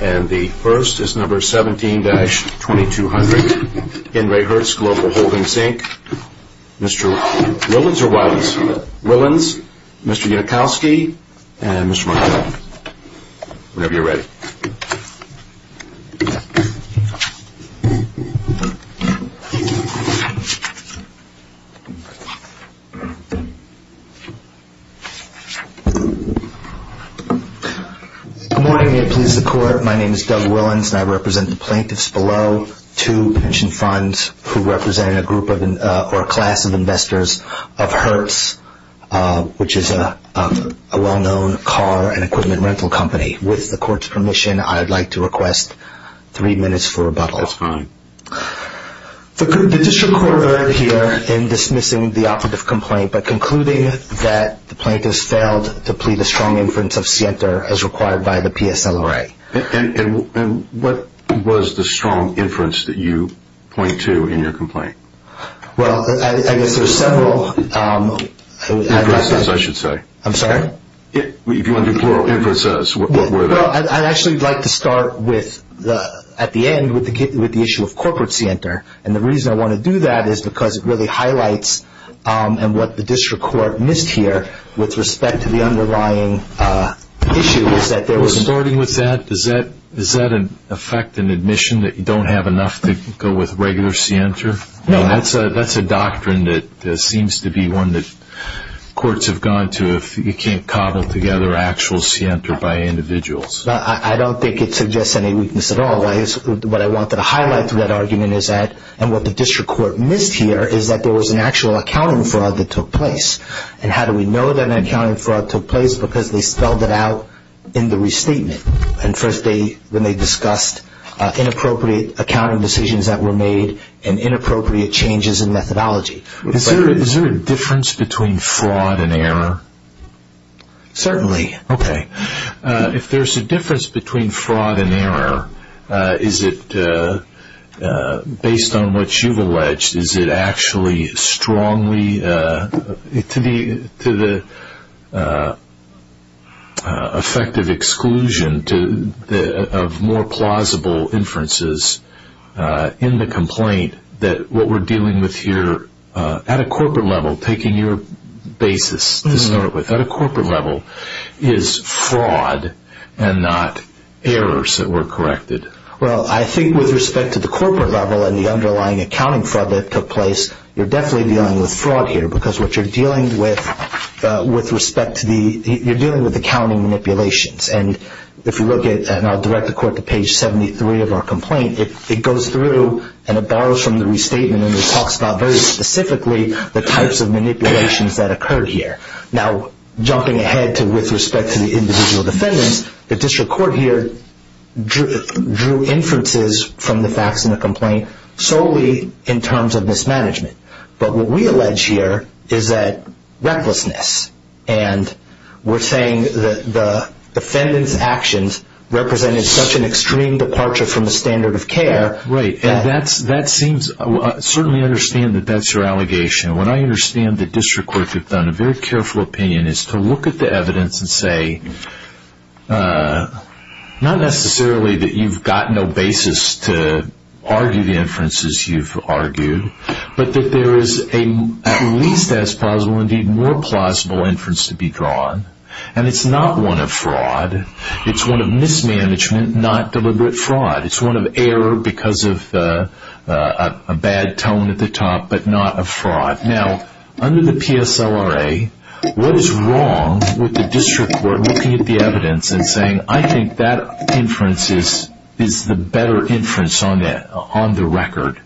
And the first is number 17-2200. In Re Hertz Global Holdings Inc. Mr. Willans, Mr. Yudakovsky, and Mr. Markel. Whenever you're ready. Good morning. May it please the court. My name is Doug Willans and I represent the plaintiffs below. Two pension funds who represent a group or a class of investors of Hertz, which is a well-known car and equipment rental company. With the court's permission, I'd like to request three minutes for rebuttal. That's fine. The district court erred here in dismissing the operative complaint, but concluding that the plaintiffs failed to plead a strong inference of scienter as required by the PSLRA. And what was the strong inference that you point to in your complaint? Well, I guess there's several. Inferences, I should say. I'm sorry? If you want to do plural inferences, what were they? Well, I'd actually like to start at the end with the issue of corporate scienter. And the reason I want to do that is because it really highlights what the district court missed here with respect to the underlying issue. Starting with that, does that affect an admission that you don't have enough to go with regular scienter? No. That's a doctrine that seems to be one that courts have gone to if you can't cobble together actual scienter by individuals. I don't think it suggests any weakness at all. What I wanted to highlight through that argument is that what the district court missed here is that there was an actual accounting fraud that took place. And how do we know that an accounting fraud took place? Because they spelled it out in the restatement. When they discussed inappropriate accounting decisions that were made and inappropriate changes in methodology. Is there a difference between fraud and error? Certainly. Okay. If there's a difference between fraud and error, is it based on what you've alleged, is it actually strongly to the effective exclusion of more plausible inferences in the complaint that what we're dealing with here at a corporate level, taking your basis to start with, at a corporate level, is fraud and not errors that were corrected? Well, I think with respect to the corporate level and the underlying accounting fraud that took place, you're definitely dealing with fraud here. Because what you're dealing with, you're dealing with accounting manipulations. And if you look at, and I'll direct the court to page 73 of our complaint, it goes through and it borrows from the restatement and it talks about very specifically the types of manipulations that occurred here. Now, jumping ahead with respect to the individual defendants, the district court here drew inferences from the facts in the complaint solely in terms of mismanagement. But what we allege here is that recklessness. And we're saying that the defendant's actions represented such an extreme departure from the standard of care. Right, and that seems, I certainly understand that that's your allegation. What I understand the district courts have done, a very careful opinion, is to look at the evidence and say, not necessarily that you've got no basis to argue the inferences you've argued, but that there is at least as plausible, indeed more plausible, inference to be drawn. And it's not one of fraud. It's one of mismanagement, not deliberate fraud. It's one of error because of a bad tone at the top, but not of fraud. Now, under the PSLRA, what is wrong with the district court looking at the evidence and saying, I think that inference is the better inference on the record?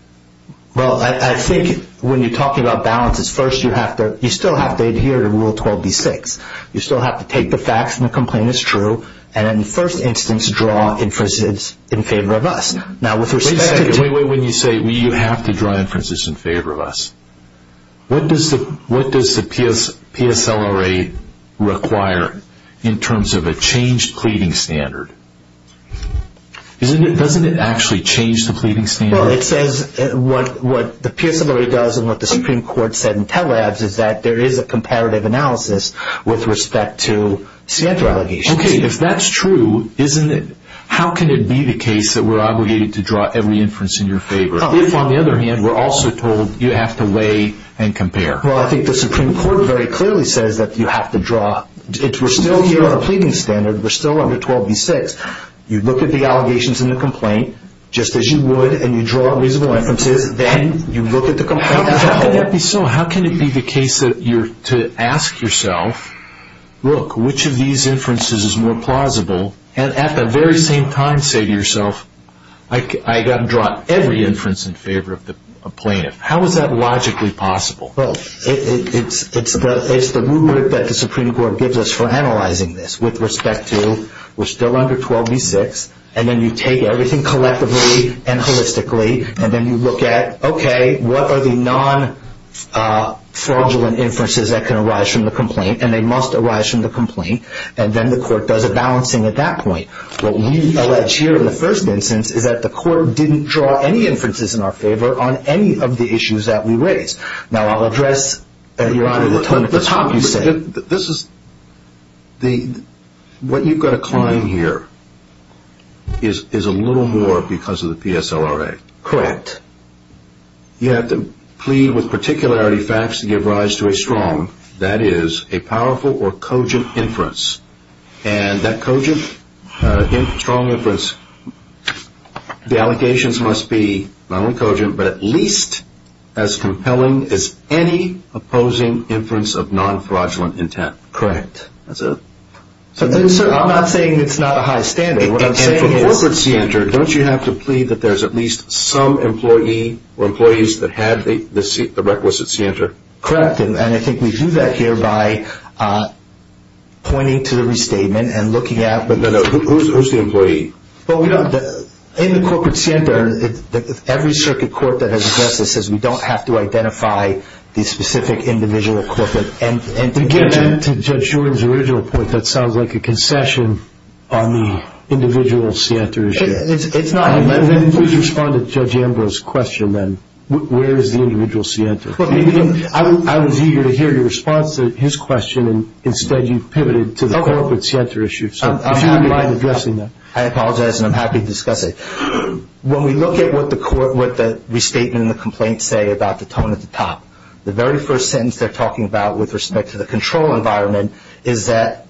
Well, I think when you're talking about balances, first you still have to adhere to Rule 12b-6. You still have to take the facts and the complaint is true, and in the first instance, draw inferences in favor of us. Now, with respect to... Wait a second. Wait, wait, wait. When you say you have to draw inferences in favor of us, what does the PSLRA require in terms of a changed pleading standard? Doesn't it actually change the pleading standard? Well, it says what the PSLRA does and what the Supreme Court said in tele-abs is that there is a comparative analysis with respect to CANTRA allegations. Okay, if that's true, how can it be the case that we're obligated to draw every inference in your favor, if, on the other hand, we're also told you have to weigh and compare? Well, I think the Supreme Court very clearly says that you have to draw... We're still here on a pleading standard. We're still under 12b-6. You look at the allegations in the complaint, just as you would, and you draw reasonable inferences, then you look at the complaint and tell. How can that be so? How can it be the case that you're to ask yourself, look, which of these inferences is more plausible, and at the very same time say to yourself, I've got to draw every inference in favor of the plaintiff? How is that logically possible? Well, it's the movement that the Supreme Court gives us for analyzing this with respect to we're still under 12b-6, and then you take everything collectively and holistically, and then you look at, okay, what are the non-fraudulent inferences that can arise from the complaint, and they must arise from the complaint, and then the court does a balancing at that point. What we allege here in the first instance is that the court didn't draw any inferences in our favor on any of the issues that we raised. Now, I'll address, Your Honor, the tone at the top. What you've got to claim here is a little more because of the PSLRA. Correct. You have to plead with particularity facts to give rise to a strong, that is, a powerful or cogent inference, and that cogent, strong inference, the allegations must be not only cogent, but at least as compelling as any opposing inference of non-fraudulent intent. Correct. That's it? I'm not saying it's not a high standing. What I'm saying is... And for the corporate scienter, don't you have to plead that there's at least some employee or employees that had the requisite scienter? Correct, and I think we do that here by pointing to the restatement and looking at... No, no. Who's the employee? In the corporate scienter, every circuit court that has addressed this says we don't have to identify the specific individual corporate entity. To get into Judge Jordan's original point, that sounds like a concession on the individual scienter issue. It's not. Then please respond to Judge Ambrose's question then. Where is the individual scienter? I was eager to hear your response to his question, and instead you pivoted to the corporate scienter issue. I apologize, and I'm happy to discuss it. When we look at what the restatement and the complaints say about the tone at the top, the very first sentence they're talking about with respect to the control environment is that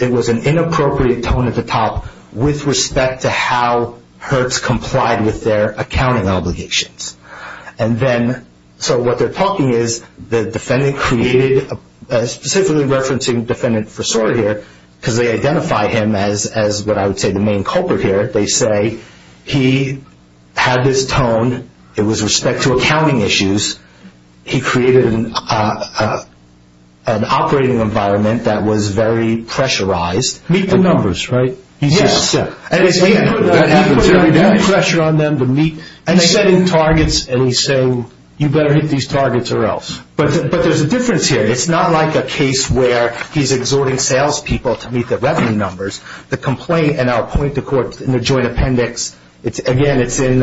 it was an inappropriate tone at the top with respect to how Hertz complied with their accounting obligations. So what they're talking is the defendant created... I'm specifically referencing defendant Frasore here because they identify him as what I would say the main culprit here. They say he had this tone. It was respect to accounting issues. He created an operating environment that was very pressurized. Meet the numbers, right? Yes. That happens every day. He put a lot of pressure on them to meet... And they set in targets, and he said, you better hit these targets or else. But there's a difference here. It's not like a case where he's exhorting salespeople to meet their revenue numbers. The complaint, and I'll point the court in the joint appendix. Again, it's in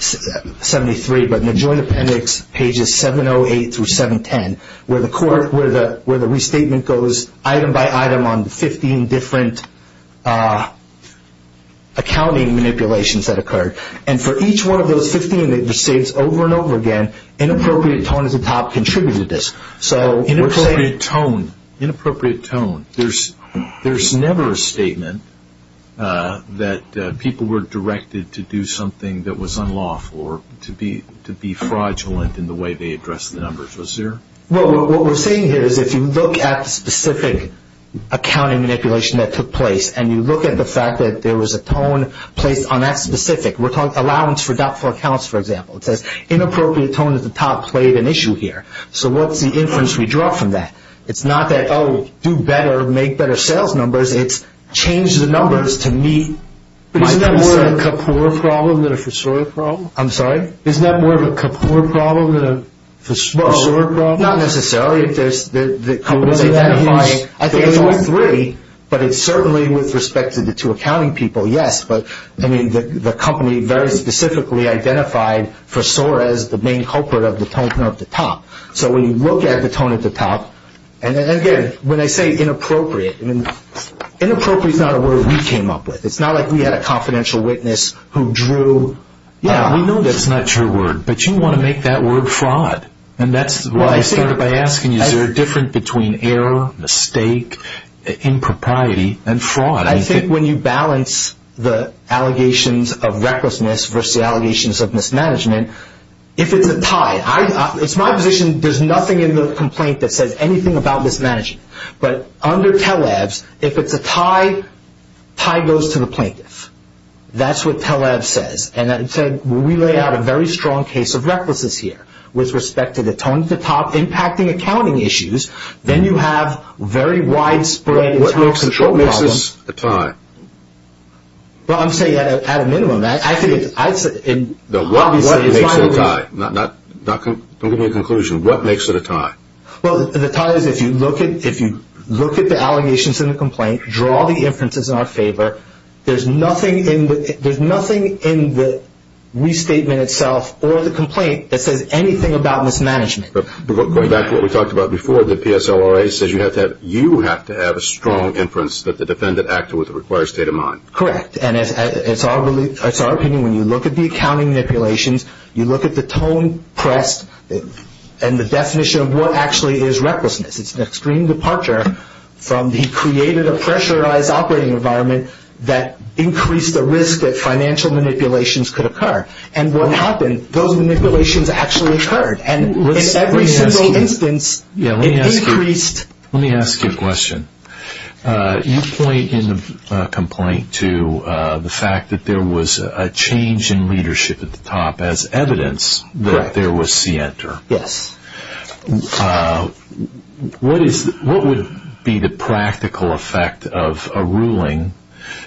73, but in the joint appendix, pages 708 through 710, where the restatement goes item by item on 15 different accounting manipulations that occurred. And for each one of those 15 restatements over and over again, inappropriate tone at the top contributed to this. So we're saying... Inappropriate tone. Inappropriate tone. There's never a statement that people were directed to do something that was unlawful or to be fraudulent in the way they addressed the numbers. Was there? Well, what we're saying here is if you look at the specific accounting manipulation that took place and you look at the fact that there was a tone placed on that specific. We're talking allowance for doubtful accounts, for example. It says inappropriate tone at the top played an issue here. So what's the inference we draw from that? It's not that, oh, do better, make better sales numbers. It's change the numbers to meet my concern. Isn't that more of a Kapoor problem than a Fasore problem? I'm sorry? Isn't that more of a Kapoor problem than a Fasore problem? Well, not necessarily. If the company's identifying... Well, isn't that his... I think it's all three, but it's certainly with respect to the two accounting people, yes. The company very specifically identified Fasore as the main culprit of the tone at the top. So when you look at the tone at the top, and again, when I say inappropriate, inappropriate is not a word we came up with. It's not like we had a confidential witness who drew... Yeah, we know that's not your word, but you want to make that word fraud. And that's why I started by asking you, is there a difference between error, mistake, impropriety, and fraud? I think when you balance the allegations of recklessness versus the allegations of mismanagement, if it's a tie, it's my position there's nothing in the complaint that says anything about mismanagement. But under TELEVS, if it's a tie, tie goes to the plaintiff. That's what TELEVS says. And we lay out a very strong case of recklessness here with respect to the tone at the top impacting accounting issues. Then you have very widespread... What makes this a tie? Well, I'm saying at a minimum. What makes it a tie? Don't give me a conclusion. What makes it a tie? Well, the tie is if you look at the allegations in the complaint, draw the inferences in our favor, there's nothing in the restatement itself or the complaint that says anything about mismanagement. Going back to what we talked about before, the PSLRA says you have to have a strong inference that the defendant acted with a required state of mind. Correct. And it's our opinion when you look at the accounting manipulations, you look at the tone pressed and the definition of what actually is recklessness. It's an extreme departure from the created or pressurized operating environment that increased the risk that financial manipulations could occur. And what happened, those manipulations actually occurred. And in every single instance, it increased... Let me ask you a question. You point in the complaint to the fact that there was a change in leadership at the top as evidence that there was C enter. Yes. What would be the practical effect of a ruling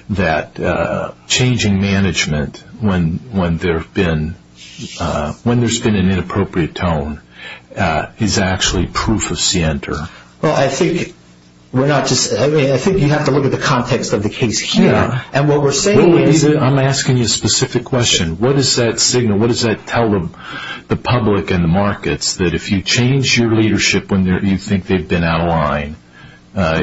that changing management when there's been an inappropriate tone is actually proof of C enter? Well, I think you have to look at the context of the case here. I'm asking you a specific question. What is that signal? What does that tell the public and the markets that if you change your leadership when you think they've been out of line,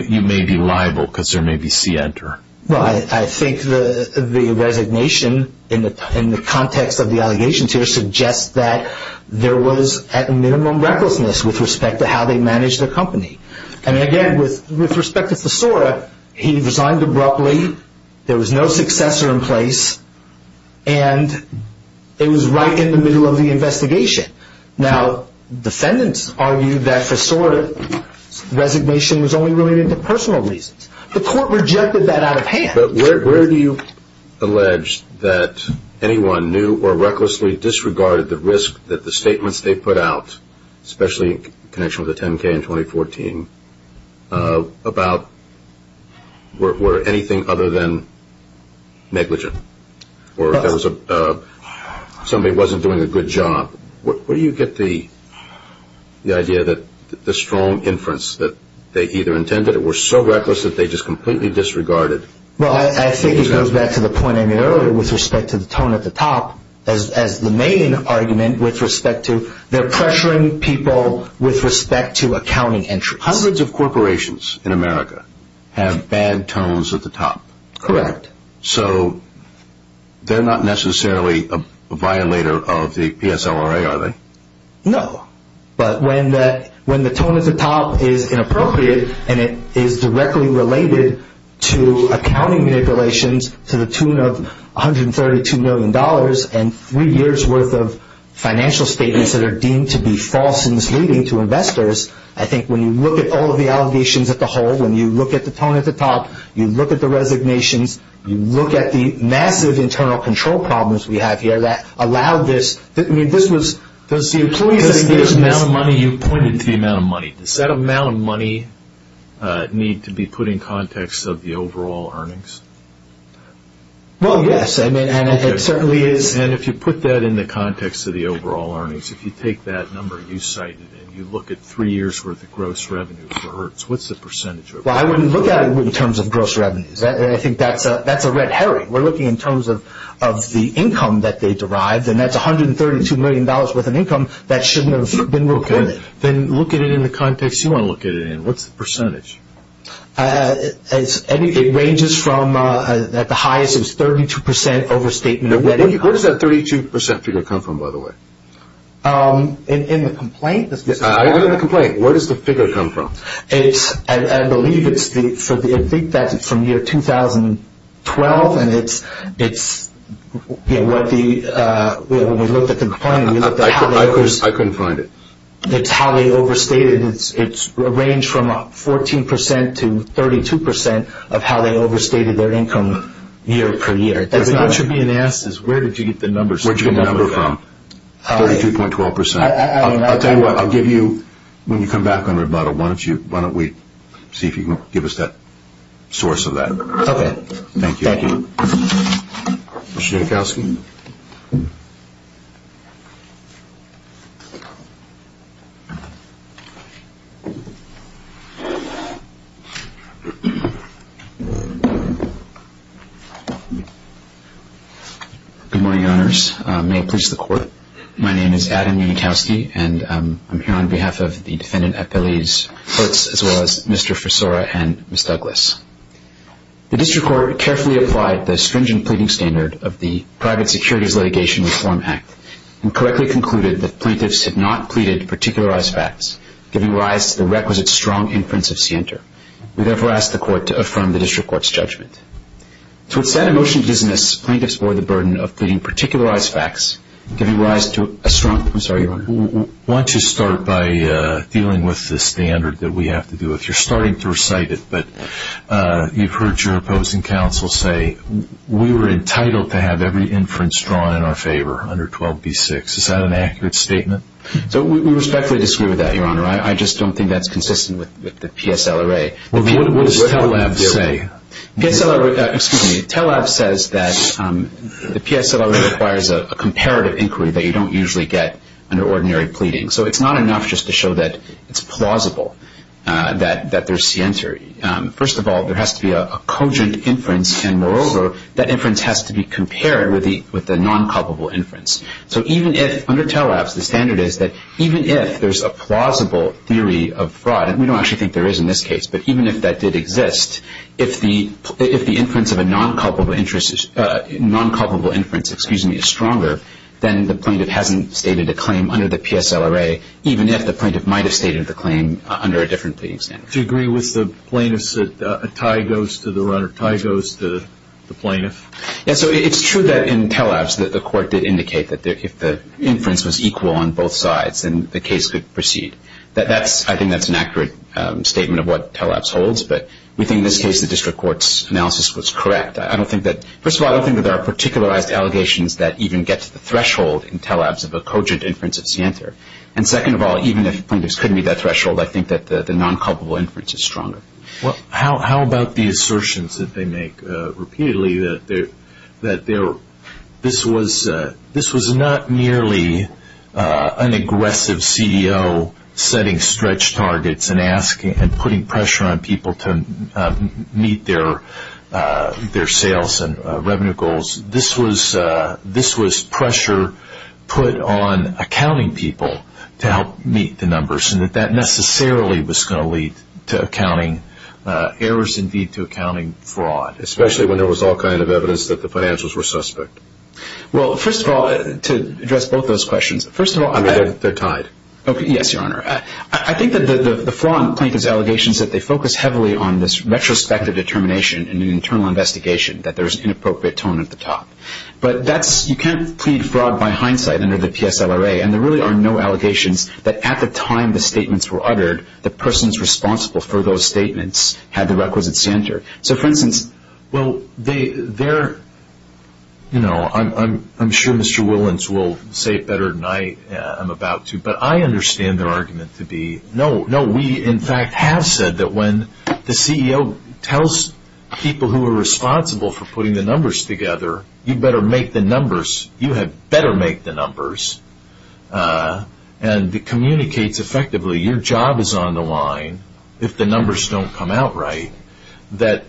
you may be liable because there may be C enter? Well, I think the resignation in the context of the allegations here suggests that there was, at minimum, recklessness with respect to how they managed their company. And again, with respect to PSLRA, he resigned abruptly. There was no successor in place. And it was right in the middle of the investigation. Now, defendants argued that for sort of resignation was only related to personal reasons. The court rejected that out of hand. But where do you allege that anyone knew or recklessly disregarded the risk that the statements they put out, especially in connection with the 10K in 2014, were anything other than negligent? Or somebody wasn't doing a good job? Where do you get the idea that the strong inference that they either intended or were so reckless that they just completely disregarded? Well, I think it goes back to the point I made earlier with respect to the tone at the top. As the main argument with respect to they're pressuring people with respect to accounting entries. Hundreds of corporations in America have bad tones at the top. Correct. So they're not necessarily a violator of the PSLRA, are they? No. But when the tone at the top is inappropriate and it is directly related to accounting manipulations to the tune of $132 million and three years' worth of financial statements that are deemed to be false and misleading to investors, I think when you look at all of the allegations at the whole, when you look at the tone at the top, you look at the resignations, you look at the massive internal control problems we have here that allow this. Does the amount of money you pointed to, the amount of money, need to be put in context of the overall earnings? Well, yes, and it certainly is. And if you put that in the context of the overall earnings, if you take that number and you cite it and you look at three years' worth of gross revenue for Hertz, what's the percentage of that? Well, I wouldn't look at it in terms of gross revenues. I think that's a red herring. We're looking in terms of the income that they derived, and that's $132 million worth of income that shouldn't have been reported. Then look at it in the context you want to look at it in. What's the percentage? It ranges from, at the highest, it was 32 percent overstatement. Where does that 32 percent figure come from, by the way? In the complaint. In the complaint. Where does the figure come from? I think that's from year 2012, and when we looked at the complaint, we looked at how many years. I couldn't find it. It's how they overstated. It ranged from 14 percent to 32 percent of how they overstated their income year per year. What you're being asked is where did you get the number from? Where did you get the number from? 32.12 percent. I'll tell you what, I'll give you, when you come back on rebuttal, why don't we see if you can give us that source of that. Okay. Thank you. Thank you. Mr. Unikowsky. Good morning, Your Honors. May it please the Court, my name is Adam Unikowsky, and I'm here on behalf of the defendant at Billy's Footes, as well as Mr. Frisora and Ms. Douglas. The District Court carefully applied the stringent pleading standard of the Private Securities Litigation Reform Act and correctly concluded that plaintiffs had not pleaded to particularize facts, giving rise to the requisite strong inference of scienter. We therefore ask the Court to affirm the District Court's judgment. So it's that emotional dissonance plaintiffs bore the burden of pleading to particularize facts, giving rise to a strong, I'm sorry, Your Honor. Why don't you start by dealing with the standard that we have to do. You're starting to recite it, but you've heard your opposing counsel say, we were entitled to have every inference drawn in our favor under 12b-6. Is that an accurate statement? We respectfully disagree with that, Your Honor. I just don't think that's consistent with the PSLRA. What does TELAB say? TELAB says that the PSLRA requires a comparative inquiry that you don't usually get under ordinary pleading. So it's not enough just to show that it's plausible that there's scienter. First of all, there has to be a cogent inference, and moreover, that inference has to be compared with the non-culpable inference. So even if, under TELAB, the standard is that even if there's a plausible theory of fraud, and we don't actually think there is in this case, but even if that did exist, if the inference of a non-culpable inference is stronger, then the plaintiff hasn't stated a claim under the PSLRA, even if the plaintiff might have stated the claim under a different pleading standard. Do you agree with the plaintiffs that a tie goes to the runner, a tie goes to the plaintiff? Yes. So it's true that in TELABs that the court did indicate that if the inference was equal on both sides, then the case could proceed. I think that's an accurate statement of what TELABs holds, but we think in this case the district court's analysis was correct. First of all, I don't think that there are particularized allegations that even get to the threshold in TELABs of a cogent inference of scienter. And second of all, even if plaintiffs couldn't meet that threshold, I think that the non-culpable inference is stronger. How about the assertions that they make repeatedly that this was not merely an aggressive CEO setting stretch targets and putting pressure on people to meet their sales and revenue goals. This was pressure put on accounting people to help meet the numbers, and that that necessarily was going to lead to accounting errors and lead to accounting fraud. Especially when there was all kinds of evidence that the financials were suspect. Well, first of all, to address both those questions, first of all, they're tied. Yes, Your Honor. I think that the flaw in Plaintiff's allegations is that they focus heavily on this retrospective determination in an internal investigation, that there's inappropriate tone at the top. But you can't plead fraud by hindsight under the PSLRA, and there really are no allegations that at the time the statements were uttered, the persons responsible for those statements had the requisite scienter. Well, I'm sure Mr. Willans will say it better than I am about to, but I understand their argument to be, no, we in fact have said that when the CEO tells people who are responsible for putting the numbers together, you better make the numbers, you had better make the numbers. And it communicates effectively, your job is on the line if the numbers don't come out right. That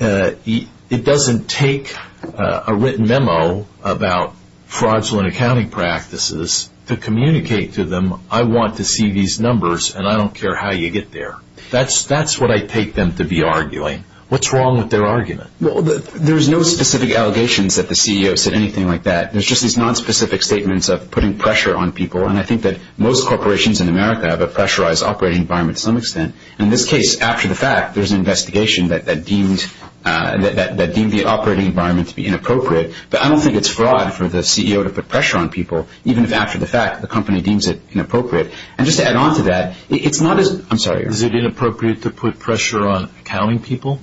it doesn't take a written memo about fraudulent accounting practices to communicate to them, I want to see these numbers and I don't care how you get there. That's what I take them to be arguing. What's wrong with their argument? Well, there's no specific allegations that the CEO said anything like that. There's just these nonspecific statements of putting pressure on people, and I think that most corporations in America have a pressurized operating environment to some extent. In this case, after the fact, there's an investigation that deemed the operating environment to be inappropriate, but I don't think it's fraud for the CEO to put pressure on people, even if after the fact the company deems it inappropriate. And just to add on to that, it's not as, I'm sorry. Is it inappropriate to put pressure on accounting people?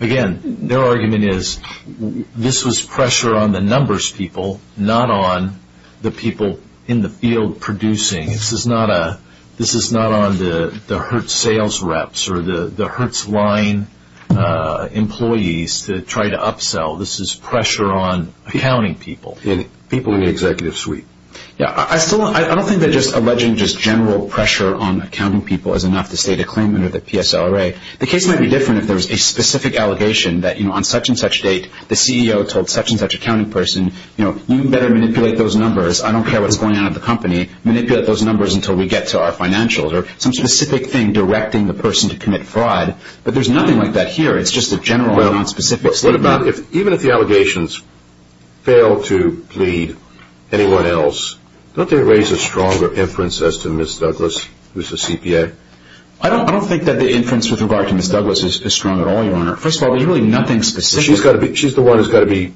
Again, their argument is, this was pressure on the numbers people, not on the people in the field producing. This is not on the Hertz sales reps or the Hertz line employees to try to upsell. This is pressure on accounting people. People in the executive suite. I don't think that just alleging just general pressure on accounting people is enough to state a claim under the PSLRA. The case might be different if there was a specific allegation that on such and such date, the CEO told such and such accounting person, you better manipulate those numbers. I don't care what's going on at the company. Manipulate those numbers until we get to our financials. Or some specific thing directing the person to commit fraud. But there's nothing like that here. It's just a general, non-specific statement. Even if the allegations fail to plead anyone else, don't they raise a stronger inference as to Ms. Douglas, who's the CPA? I don't think that the inference with regard to Ms. Douglas is strong at all, Your Honor. First of all, there's really nothing specific. She's the one who's got to be,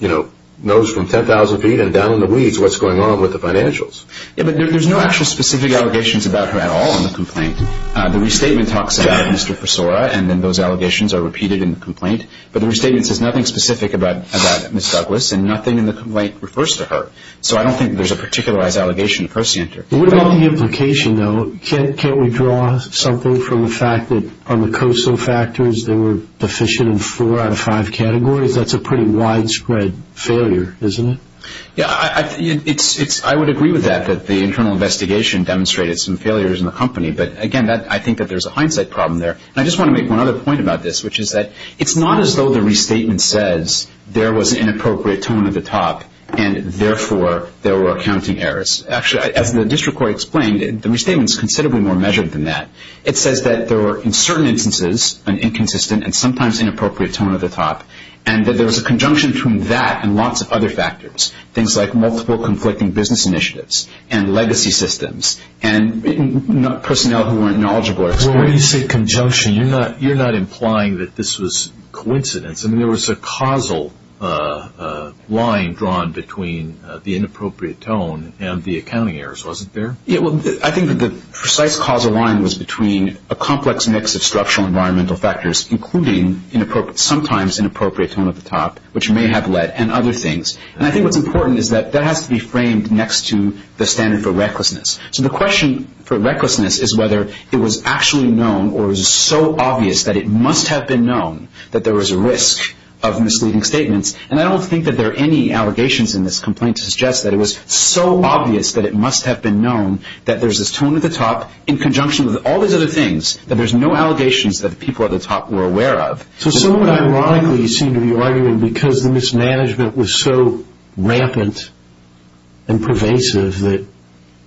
you know, nose from 10,000 feet and down in the weeds what's going on with the financials. Yeah, but there's no actual specific allegations about her at all in the complaint. The restatement talks about Mr. Fasora, and then those allegations are repeated in the complaint. But the restatement says nothing specific about Ms. Douglas, and nothing in the complaint refers to her. So I don't think there's a particularized allegation to prescient her. What about the implication, though? Can't we draw something from the fact that on the COSO factors they were deficient in four out of five categories? That's a pretty widespread failure, isn't it? Yeah, I would agree with that, that the internal investigation demonstrated some failures in the company. But, again, I think that there's a hindsight problem there. And I just want to make one other point about this, which is that it's not as though the restatement says there was inappropriate tone at the top, and therefore there were accounting errors. Actually, as the district court explained, the restatement is considerably more measured than that. It says that there were, in certain instances, an inconsistent and sometimes inappropriate tone at the top, and that there was a conjunction between that and lots of other factors, things like multiple conflicting business initiatives and legacy systems and personnel who weren't knowledgeable or experienced. Well, when you say conjunction, you're not implying that this was coincidence. I mean, there was a causal line drawn between the inappropriate tone and the accounting errors, wasn't there? Yeah, well, I think that the precise causal line was between a complex mix of structural environmental factors, including sometimes inappropriate tone at the top, which may have led, and other things. And I think what's important is that that has to be framed next to the standard for recklessness. So the question for recklessness is whether it was actually known or is it so obvious that it must have been known that there was a risk of misleading statements. And I don't think that there are any allegations in this complaint to suggest that it was so obvious that it must have been known that there's this tone at the top in conjunction with all these other things, that there's no allegations that the people at the top were aware of. So someone ironically seemed to be arguing because the mismanagement was so rampant and pervasive that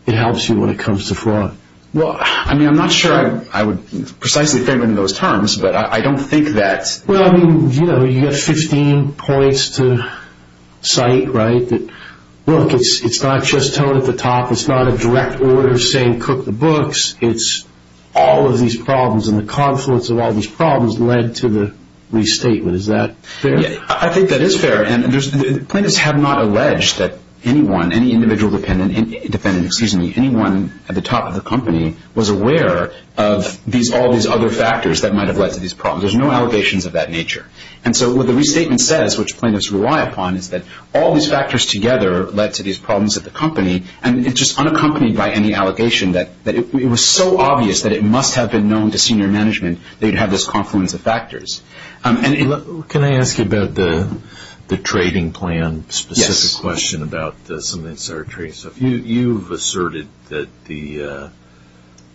it helps you when it comes to fraud. Well, I mean, I'm not sure I would precisely frame it in those terms, but I don't think that... Well, I mean, you know, you get 15 points to cite, right? Look, it's not just tone at the top, it's not a direct order saying cook the books, it's all of these problems and the confluence of all these problems led to the restatement. Is that fair? Yeah, I think that is fair. And plaintiffs have not alleged that anyone, any individual defendant, defendant, excuse me, anyone at the top of the company was aware of all these other factors that might have led to these problems. There's no allegations of that nature. And so what the restatement says, which plaintiffs rely upon, is that all these factors together led to these problems at the company and it's just unaccompanied by any allegation that it was so obvious that it must have been known to senior management that you'd have this confluence of factors. Can I ask you about the trading plan? Yes. A specific question about some of the insider trading stuff. You've asserted that the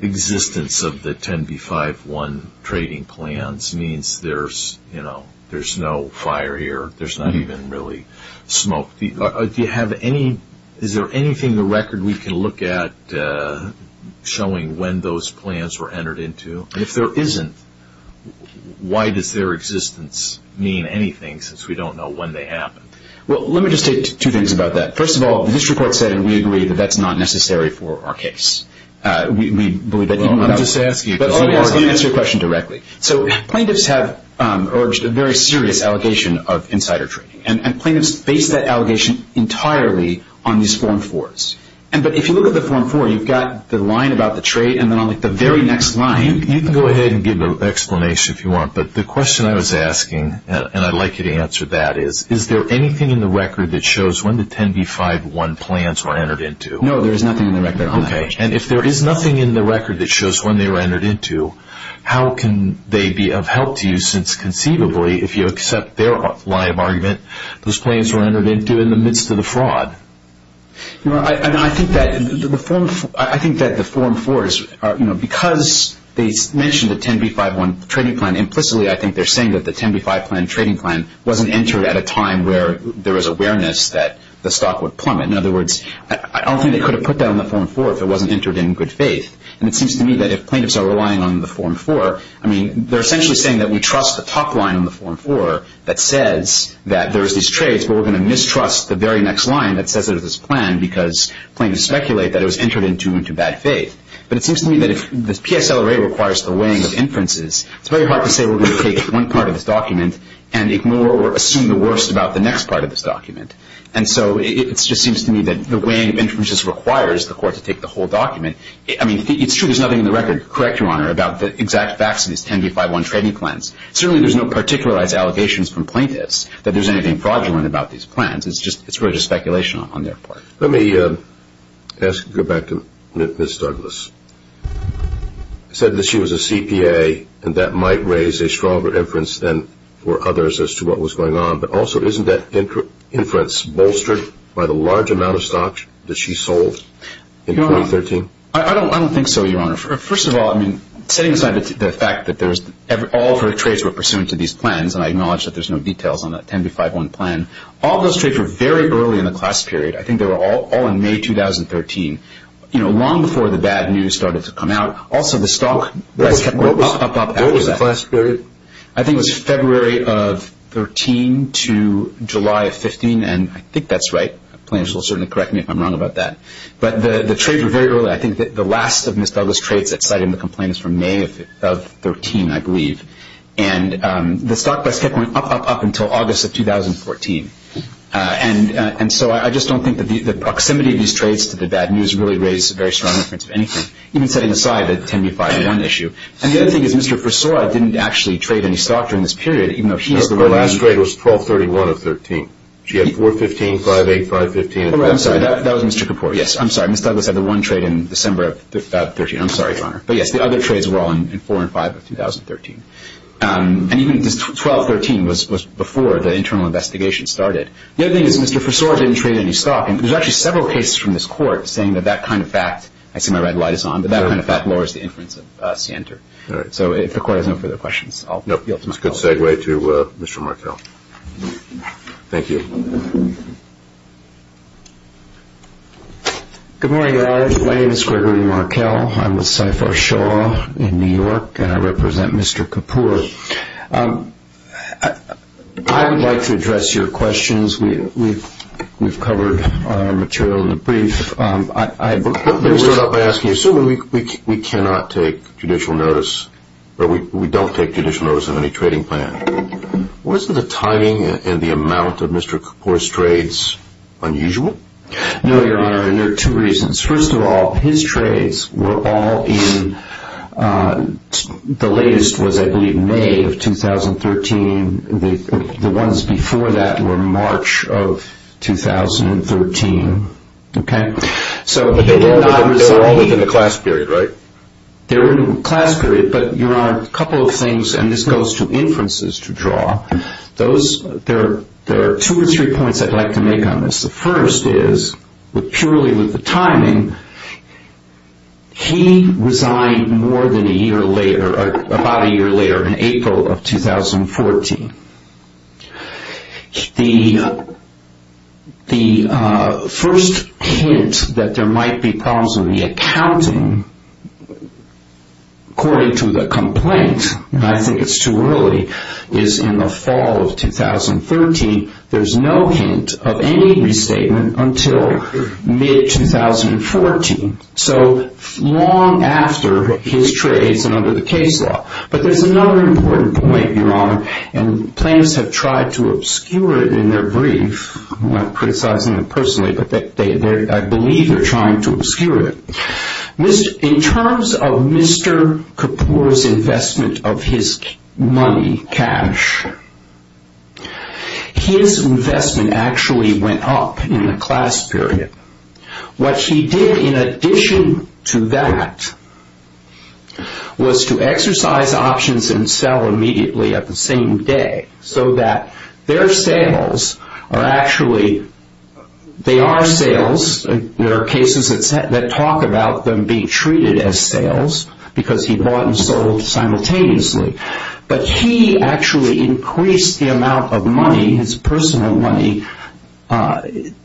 existence of the 10b-5-1 trading plans means there's, you know, there's no fire here, there's not even really smoke. Do you have any, is there anything in the record we can look at showing when those plans were entered into? And if there isn't, why does their existence mean anything since we don't know when they happened? Well, let me just say two things about that. First of all, this report said and we agree that that's not necessary for our case. We believe that even without... Well, let me just ask you... Let me answer your question directly. So plaintiffs have urged a very serious allegation of insider trading. And plaintiffs base that allegation entirely on these Form 4s. But if you look at the Form 4, you've got the line about the trade and then on the very next line... You can go ahead and give an explanation if you want. But the question I was asking, and I'd like you to answer that is, is there anything in the record that shows when the 10b-5-1 plans were entered into? No, there is nothing in the record. Okay. And if there is nothing in the record that shows when they were entered into, how can they be of help to you since conceivably if you accept their lie of argument, those plans were entered into in the midst of the fraud? I think that the Form 4s are... Because they mentioned the 10b-5-1 trading plan implicitly, I think they're saying that the 10b-5-1 trading plan wasn't entered at a time where there was awareness that the stock would plummet. In other words, I don't think they could have put that on the Form 4 if it wasn't entered in good faith. And it seems to me that if plaintiffs are relying on the Form 4, I mean, they're essentially saying that we trust the top line on the Form 4 that says that there's these trades, but we're going to mistrust the very next line that says there's this plan because plaintiffs speculate that it was entered into into bad faith. But it seems to me that if the PSLA requires the weighing of inferences, it's very hard to say we're going to take one part of this document and ignore or assume the worst about the next part of this document. And so it just seems to me that the weighing of inferences requires the court to take the whole document. I mean, it's true there's nothing in the record, correct, Your Honor, about the exact facts of these 10b-5-1 trading plans. Certainly, there's no particularized allegations from plaintiffs that there's anything fraudulent about these plans. It's really just speculation on their part. Let me go back to Ms. Douglas. You said that she was a CPA and that might raise a stronger inference than for others as to what was going on. But also, isn't that inference bolstered by the large amount of stocks that she sold in 2013? I don't think so, Your Honor. First of all, I mean, setting aside the fact that all of her trades were pursuant to these plans, and I acknowledge that there's no details on that 10b-5-1 plan, all those trades were very early in the class period. I think they were all in May 2013, you know, long before the bad news started to come out. Also, the stock price kept going up, up, up after that. What was the class period? I think it was February of 13 to July of 15, and I think that's right. Plaintiffs will certainly correct me if I'm wrong about that. But the trades were very early. I think that the last of Ms. Douglas' trades that cited in the complaint is from May of 13, I believe. And the stock price kept going up, up, up until August of 2014. And so I just don't think that the proximity of these trades to the bad news really raised a very strong inference of anything, even setting aside the 10b-5-1 issue. And the other thing is Mr. Forsoy didn't actually trade any stock during this period, even though he is the one who – Her last trade was 12-31 of 13. She had 4-15, 5-8, 5-15. I'm sorry. That was Mr. Kapoor. Yes, I'm sorry. Ms. Douglas had the one trade in December of 13. I'm sorry, Your Honor. But, yes, the other trades were all in 4-5 of 2013. And even 12-13 was before the internal investigation started. The other thing is Mr. Forsoy didn't trade any stock. And there's actually several cases from this Court saying that that kind of fact – I see my red light is on – that that kind of fact lowers the inference of Sienter. All right. So if the Court has no further questions, I'll yield to my colleague. That's a good segue to Mr. Markell. Thank you. Good morning, Your Honor. My name is Gregory Markell. I'm with CIFAR Shaw in New York, and I represent Mr. Kapoor. I would like to address your questions. We've covered our material in the brief. Let me start off by asking you, assuming we cannot take judicial notice or we don't take judicial notice of any trading plan, wasn't the timing and the amount of Mr. Kapoor's trades unusual? No, Your Honor, and there are two reasons. First of all, his trades were all in – the latest was, I believe, May of 2013. The ones before that were March of 2013. Okay? But they were all within a class period, right? They were in a class period. But, Your Honor, a couple of things, and this goes to inferences to draw. There are two or three points I'd like to make on this. The first is, purely with the timing, he resigned more than a year later, about a year later, in April of 2014. The first hint that there might be problems in the accounting, according to the complaint, and I think it's too early, is in the fall of 2013. There's no hint of any restatement until mid-2014, so long after his trades and under the case law. But there's another important point, Your Honor, and plaintiffs have tried to obscure it in their brief. I'm not criticizing them personally, but I believe they're trying to obscure it. In terms of Mr. Kapoor's investment of his money, cash, his investment actually went up in the class period. What he did in addition to that was to exercise options and sell immediately at the same day, so that their sales are actually, they are sales, there are cases that talk about them being treated as sales, because he bought and sold simultaneously. But he actually increased the amount of money, his personal money,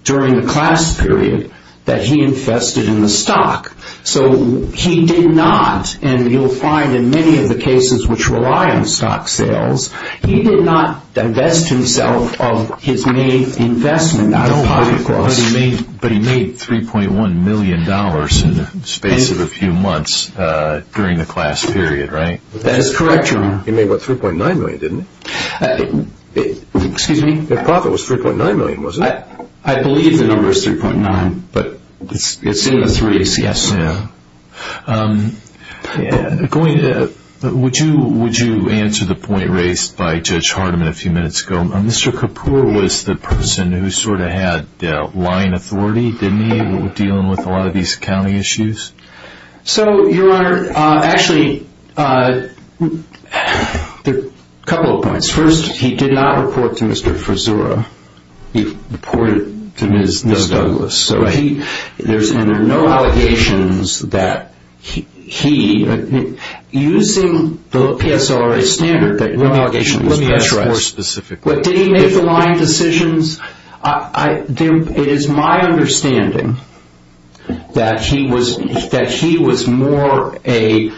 during the class period that he invested in the stock. So he did not, and you'll find in many of the cases which rely on stock sales, he did not divest himself of his main investment. But he made $3.1 million in the space of a few months during the class period, right? That is correct, Your Honor. He made, what, $3.9 million, didn't he? Excuse me? The profit was $3.9 million, wasn't it? I believe the number is $3.9, but it's in the threes, yes. Would you answer the point raised by Judge Hardiman a few minutes ago? Mr. Kapoor was the person who sort of had line authority, didn't he, dealing with a lot of these accounting issues? So, Your Honor, actually, there are a couple of points. First, he did not report to Mr. Frazzura. He reported to Ms. Douglas. And there are no allegations that he, using the PSRA standard, that no allegation was pressed. Let me ask more specifically. Did he make the line decisions? It is my understanding that he was more a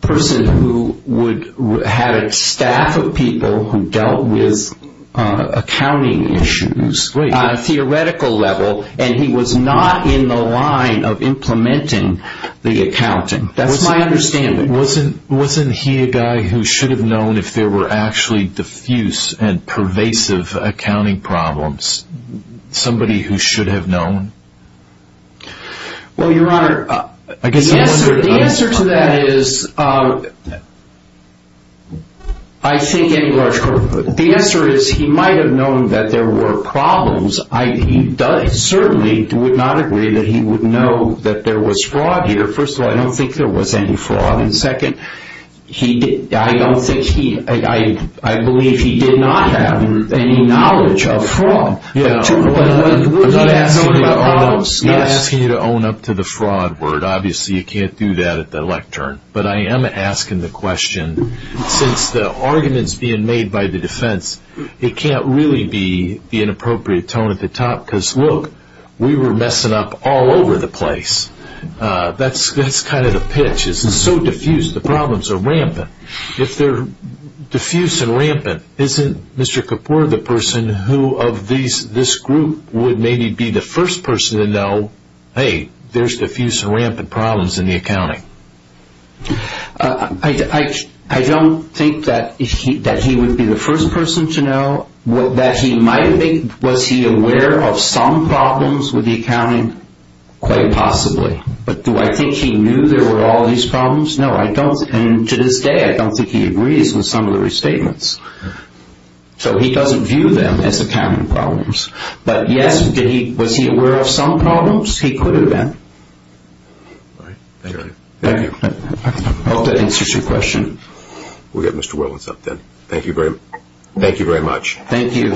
person who had a staff of people who dealt with accounting issues. Great. On a theoretical level, and he was not in the line of implementing the accounting. That's my understanding. Wasn't he a guy who should have known if there were actually diffuse and pervasive accounting problems? Somebody who should have known? Well, Your Honor, the answer to that is, I think, in large part, The answer is, he might have known that there were problems. He certainly would not agree that he would know that there was fraud here. First of all, I don't think there was any fraud. And second, I believe he did not have any knowledge of fraud. I'm not asking you to own up to the fraud word. Obviously, you can't do that at the lectern. But I am asking the question. Since the argument is being made by the defense, it can't really be the inappropriate tone at the top. Because look, we were messing up all over the place. That's kind of the pitch. It's so diffuse. The problems are rampant. If they're diffuse and rampant, isn't Mr. Kapoor the person who of this group would maybe be the first person to know, hey, there's diffuse and rampant problems in the accounting? I don't think that he would be the first person to know. Was he aware of some problems with the accounting? Quite possibly. But do I think he knew there were all these problems? No, I don't. And to this day, I don't think he agrees with some of the restatements. So he doesn't view them as accounting problems. But, yes, was he aware of some problems? He could have been. All right. Thank you. Thank you. I hope that answers your question. We'll get Mr. Willis up then. Thank you very much. Thank you.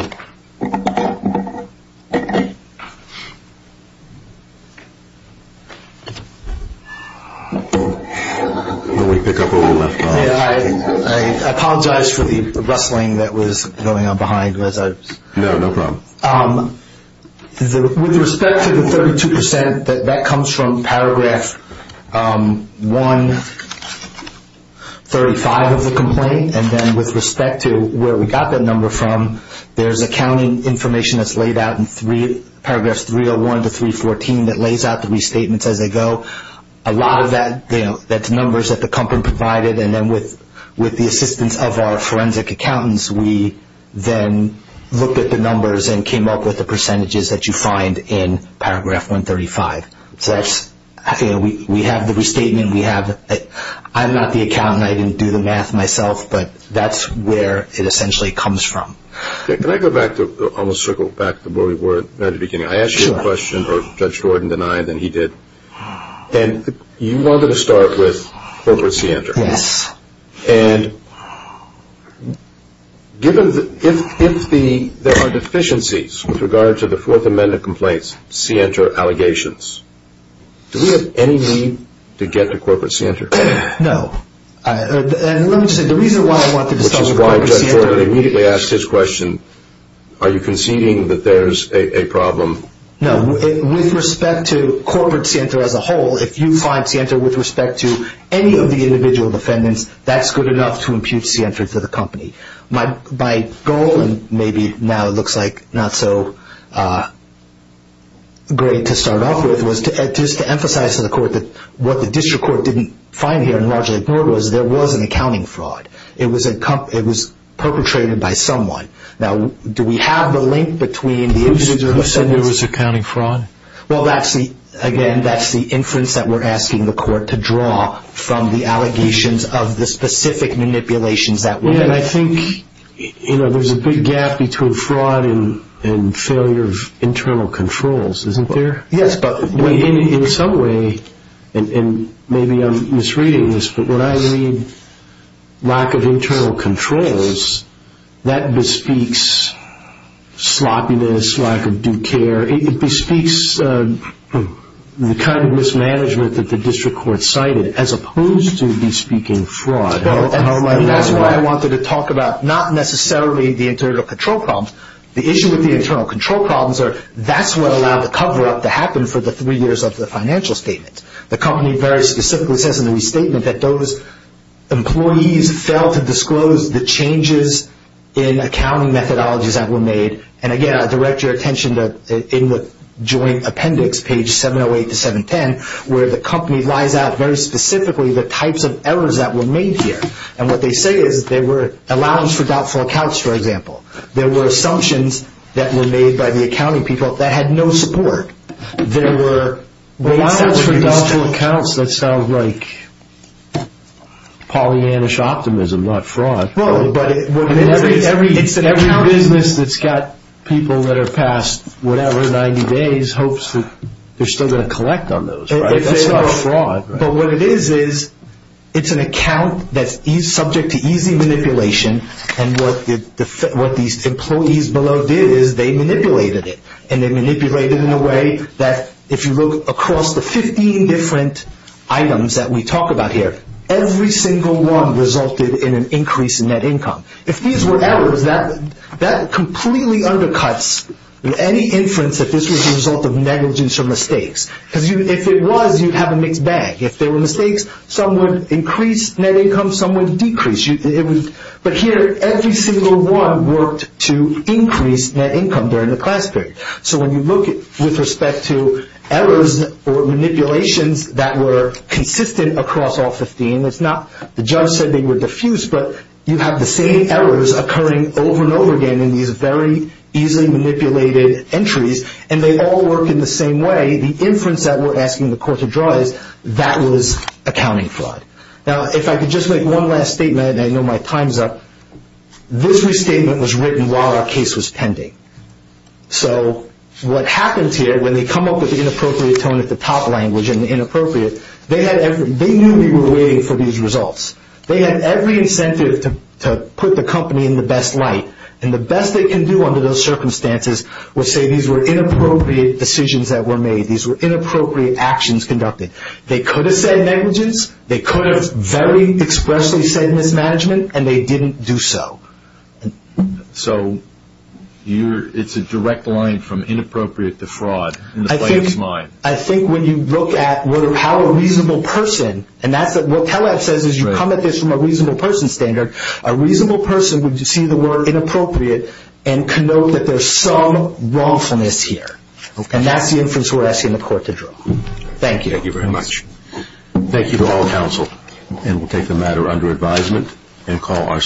I apologize for the rustling that was going on behind. No, no problem. With respect to the 32%, that comes from Paragraph 135 of the complaint. And then with respect to where we got that number from, there's accounting information that's laid out in Paragraphs 301 to 314 that lays out the restatements as they go. A lot of that's numbers that the company provided. And then with the assistance of our forensic accountants, we then looked at the numbers and came up with the percentages that you find in Paragraph 135. So we have the restatement. I'm not the accountant. I didn't do the math myself. But that's where it essentially comes from. Can I go back, almost circle back to where we were at the beginning? I asked you a question, or Judge Gordon denied, and he did. And you wanted to start with Corporate Center. Yes. And if there are deficiencies with regard to the Fourth Amendment complaints, CENTER allegations, do we have any need to get to Corporate CENTER? No. And let me just say, the reason why I wanted to start with Corporate CENTER. Which is why Judge Gordon immediately asked his question, are you conceding that there's a problem? No. With respect to Corporate CENTER as a whole, if you find CENTER with respect to any of the individual defendants, that's good enough to impute CENTER to the company. My goal, and maybe now it looks like not so great to start off with, was just to emphasize to the court that what the district court didn't find here and largely ignored was there was an accounting fraud. It was perpetrated by someone. Now, do we have the link between the individual defendants... Who said there was accounting fraud? Well, again, that's the inference that we're asking the court to draw from the allegations of the specific manipulations that were... And I think there's a big gap between fraud and failure of internal controls, isn't there? Yes, but... In some way, and maybe I'm misreading this, but when I read lack of internal controls, that bespeaks sloppiness, lack of due care. It bespeaks the kind of mismanagement that the district court cited as opposed to bespeaking fraud. That's why I wanted to talk about not necessarily the internal control problems. The issue with the internal control problems are that's what allowed the cover-up to happen for the three years of the financial statement. The company very specifically says in the restatement that those employees failed to disclose the changes in accounting methodologies that were made. And, again, I direct your attention in the joint appendix, page 708 to 710, where the company lies out very specifically the types of errors that were made here. And what they say is there were allowances for doubtful accounts, for example. There were assumptions that were made by the accounting people that had no support. There were allowances for doubtful accounts. That sounds like Pollyannish optimism, not fraud. Every business that's got people that are past whatever, 90 days, hopes that they're still going to collect on those, right? That's not fraud. But what it is is it's an account that's subject to easy manipulation, and what these employees below did is they manipulated it. And they manipulated it in a way that if you look across the 15 different items that we talk about here, every single one resulted in an increase in net income. If these were errors, that completely undercuts any inference that this was a result of negligence or mistakes. Because if it was, you'd have a mixed bag. If there were mistakes, some would increase net income, some would decrease. But here, every single one worked to increase net income during the class period. So when you look with respect to errors or manipulations that were consistent across all 15, it's not the judge said they were diffused, but you have the same errors occurring over and over again in these very easily manipulated entries, and they all work in the same way. The inference that we're asking the court to draw is that was accounting fraud. Now, if I could just make one last statement, and I know my time's up, this restatement was written while our case was pending. So what happens here when they come up with the inappropriate tone at the top language and the inappropriate, they knew we were waiting for these results. They had every incentive to put the company in the best light, and the best they can do under those circumstances was say these were inappropriate decisions that were made. These were inappropriate actions conducted. They could have said negligence. They could have very expressly said mismanagement, and they didn't do so. So it's a direct line from inappropriate to fraud in the plaintiff's mind. I think when you look at how a reasonable person, and that's what TELEB says is you come at this from a reasonable person standard, a reasonable person would see the word inappropriate and connote that there's some wrongfulness here, and that's the inference we're asking the court to draw. Thank you. Thank you very much. Thank you to all counsel. And we'll take the matter under advisement and call our session.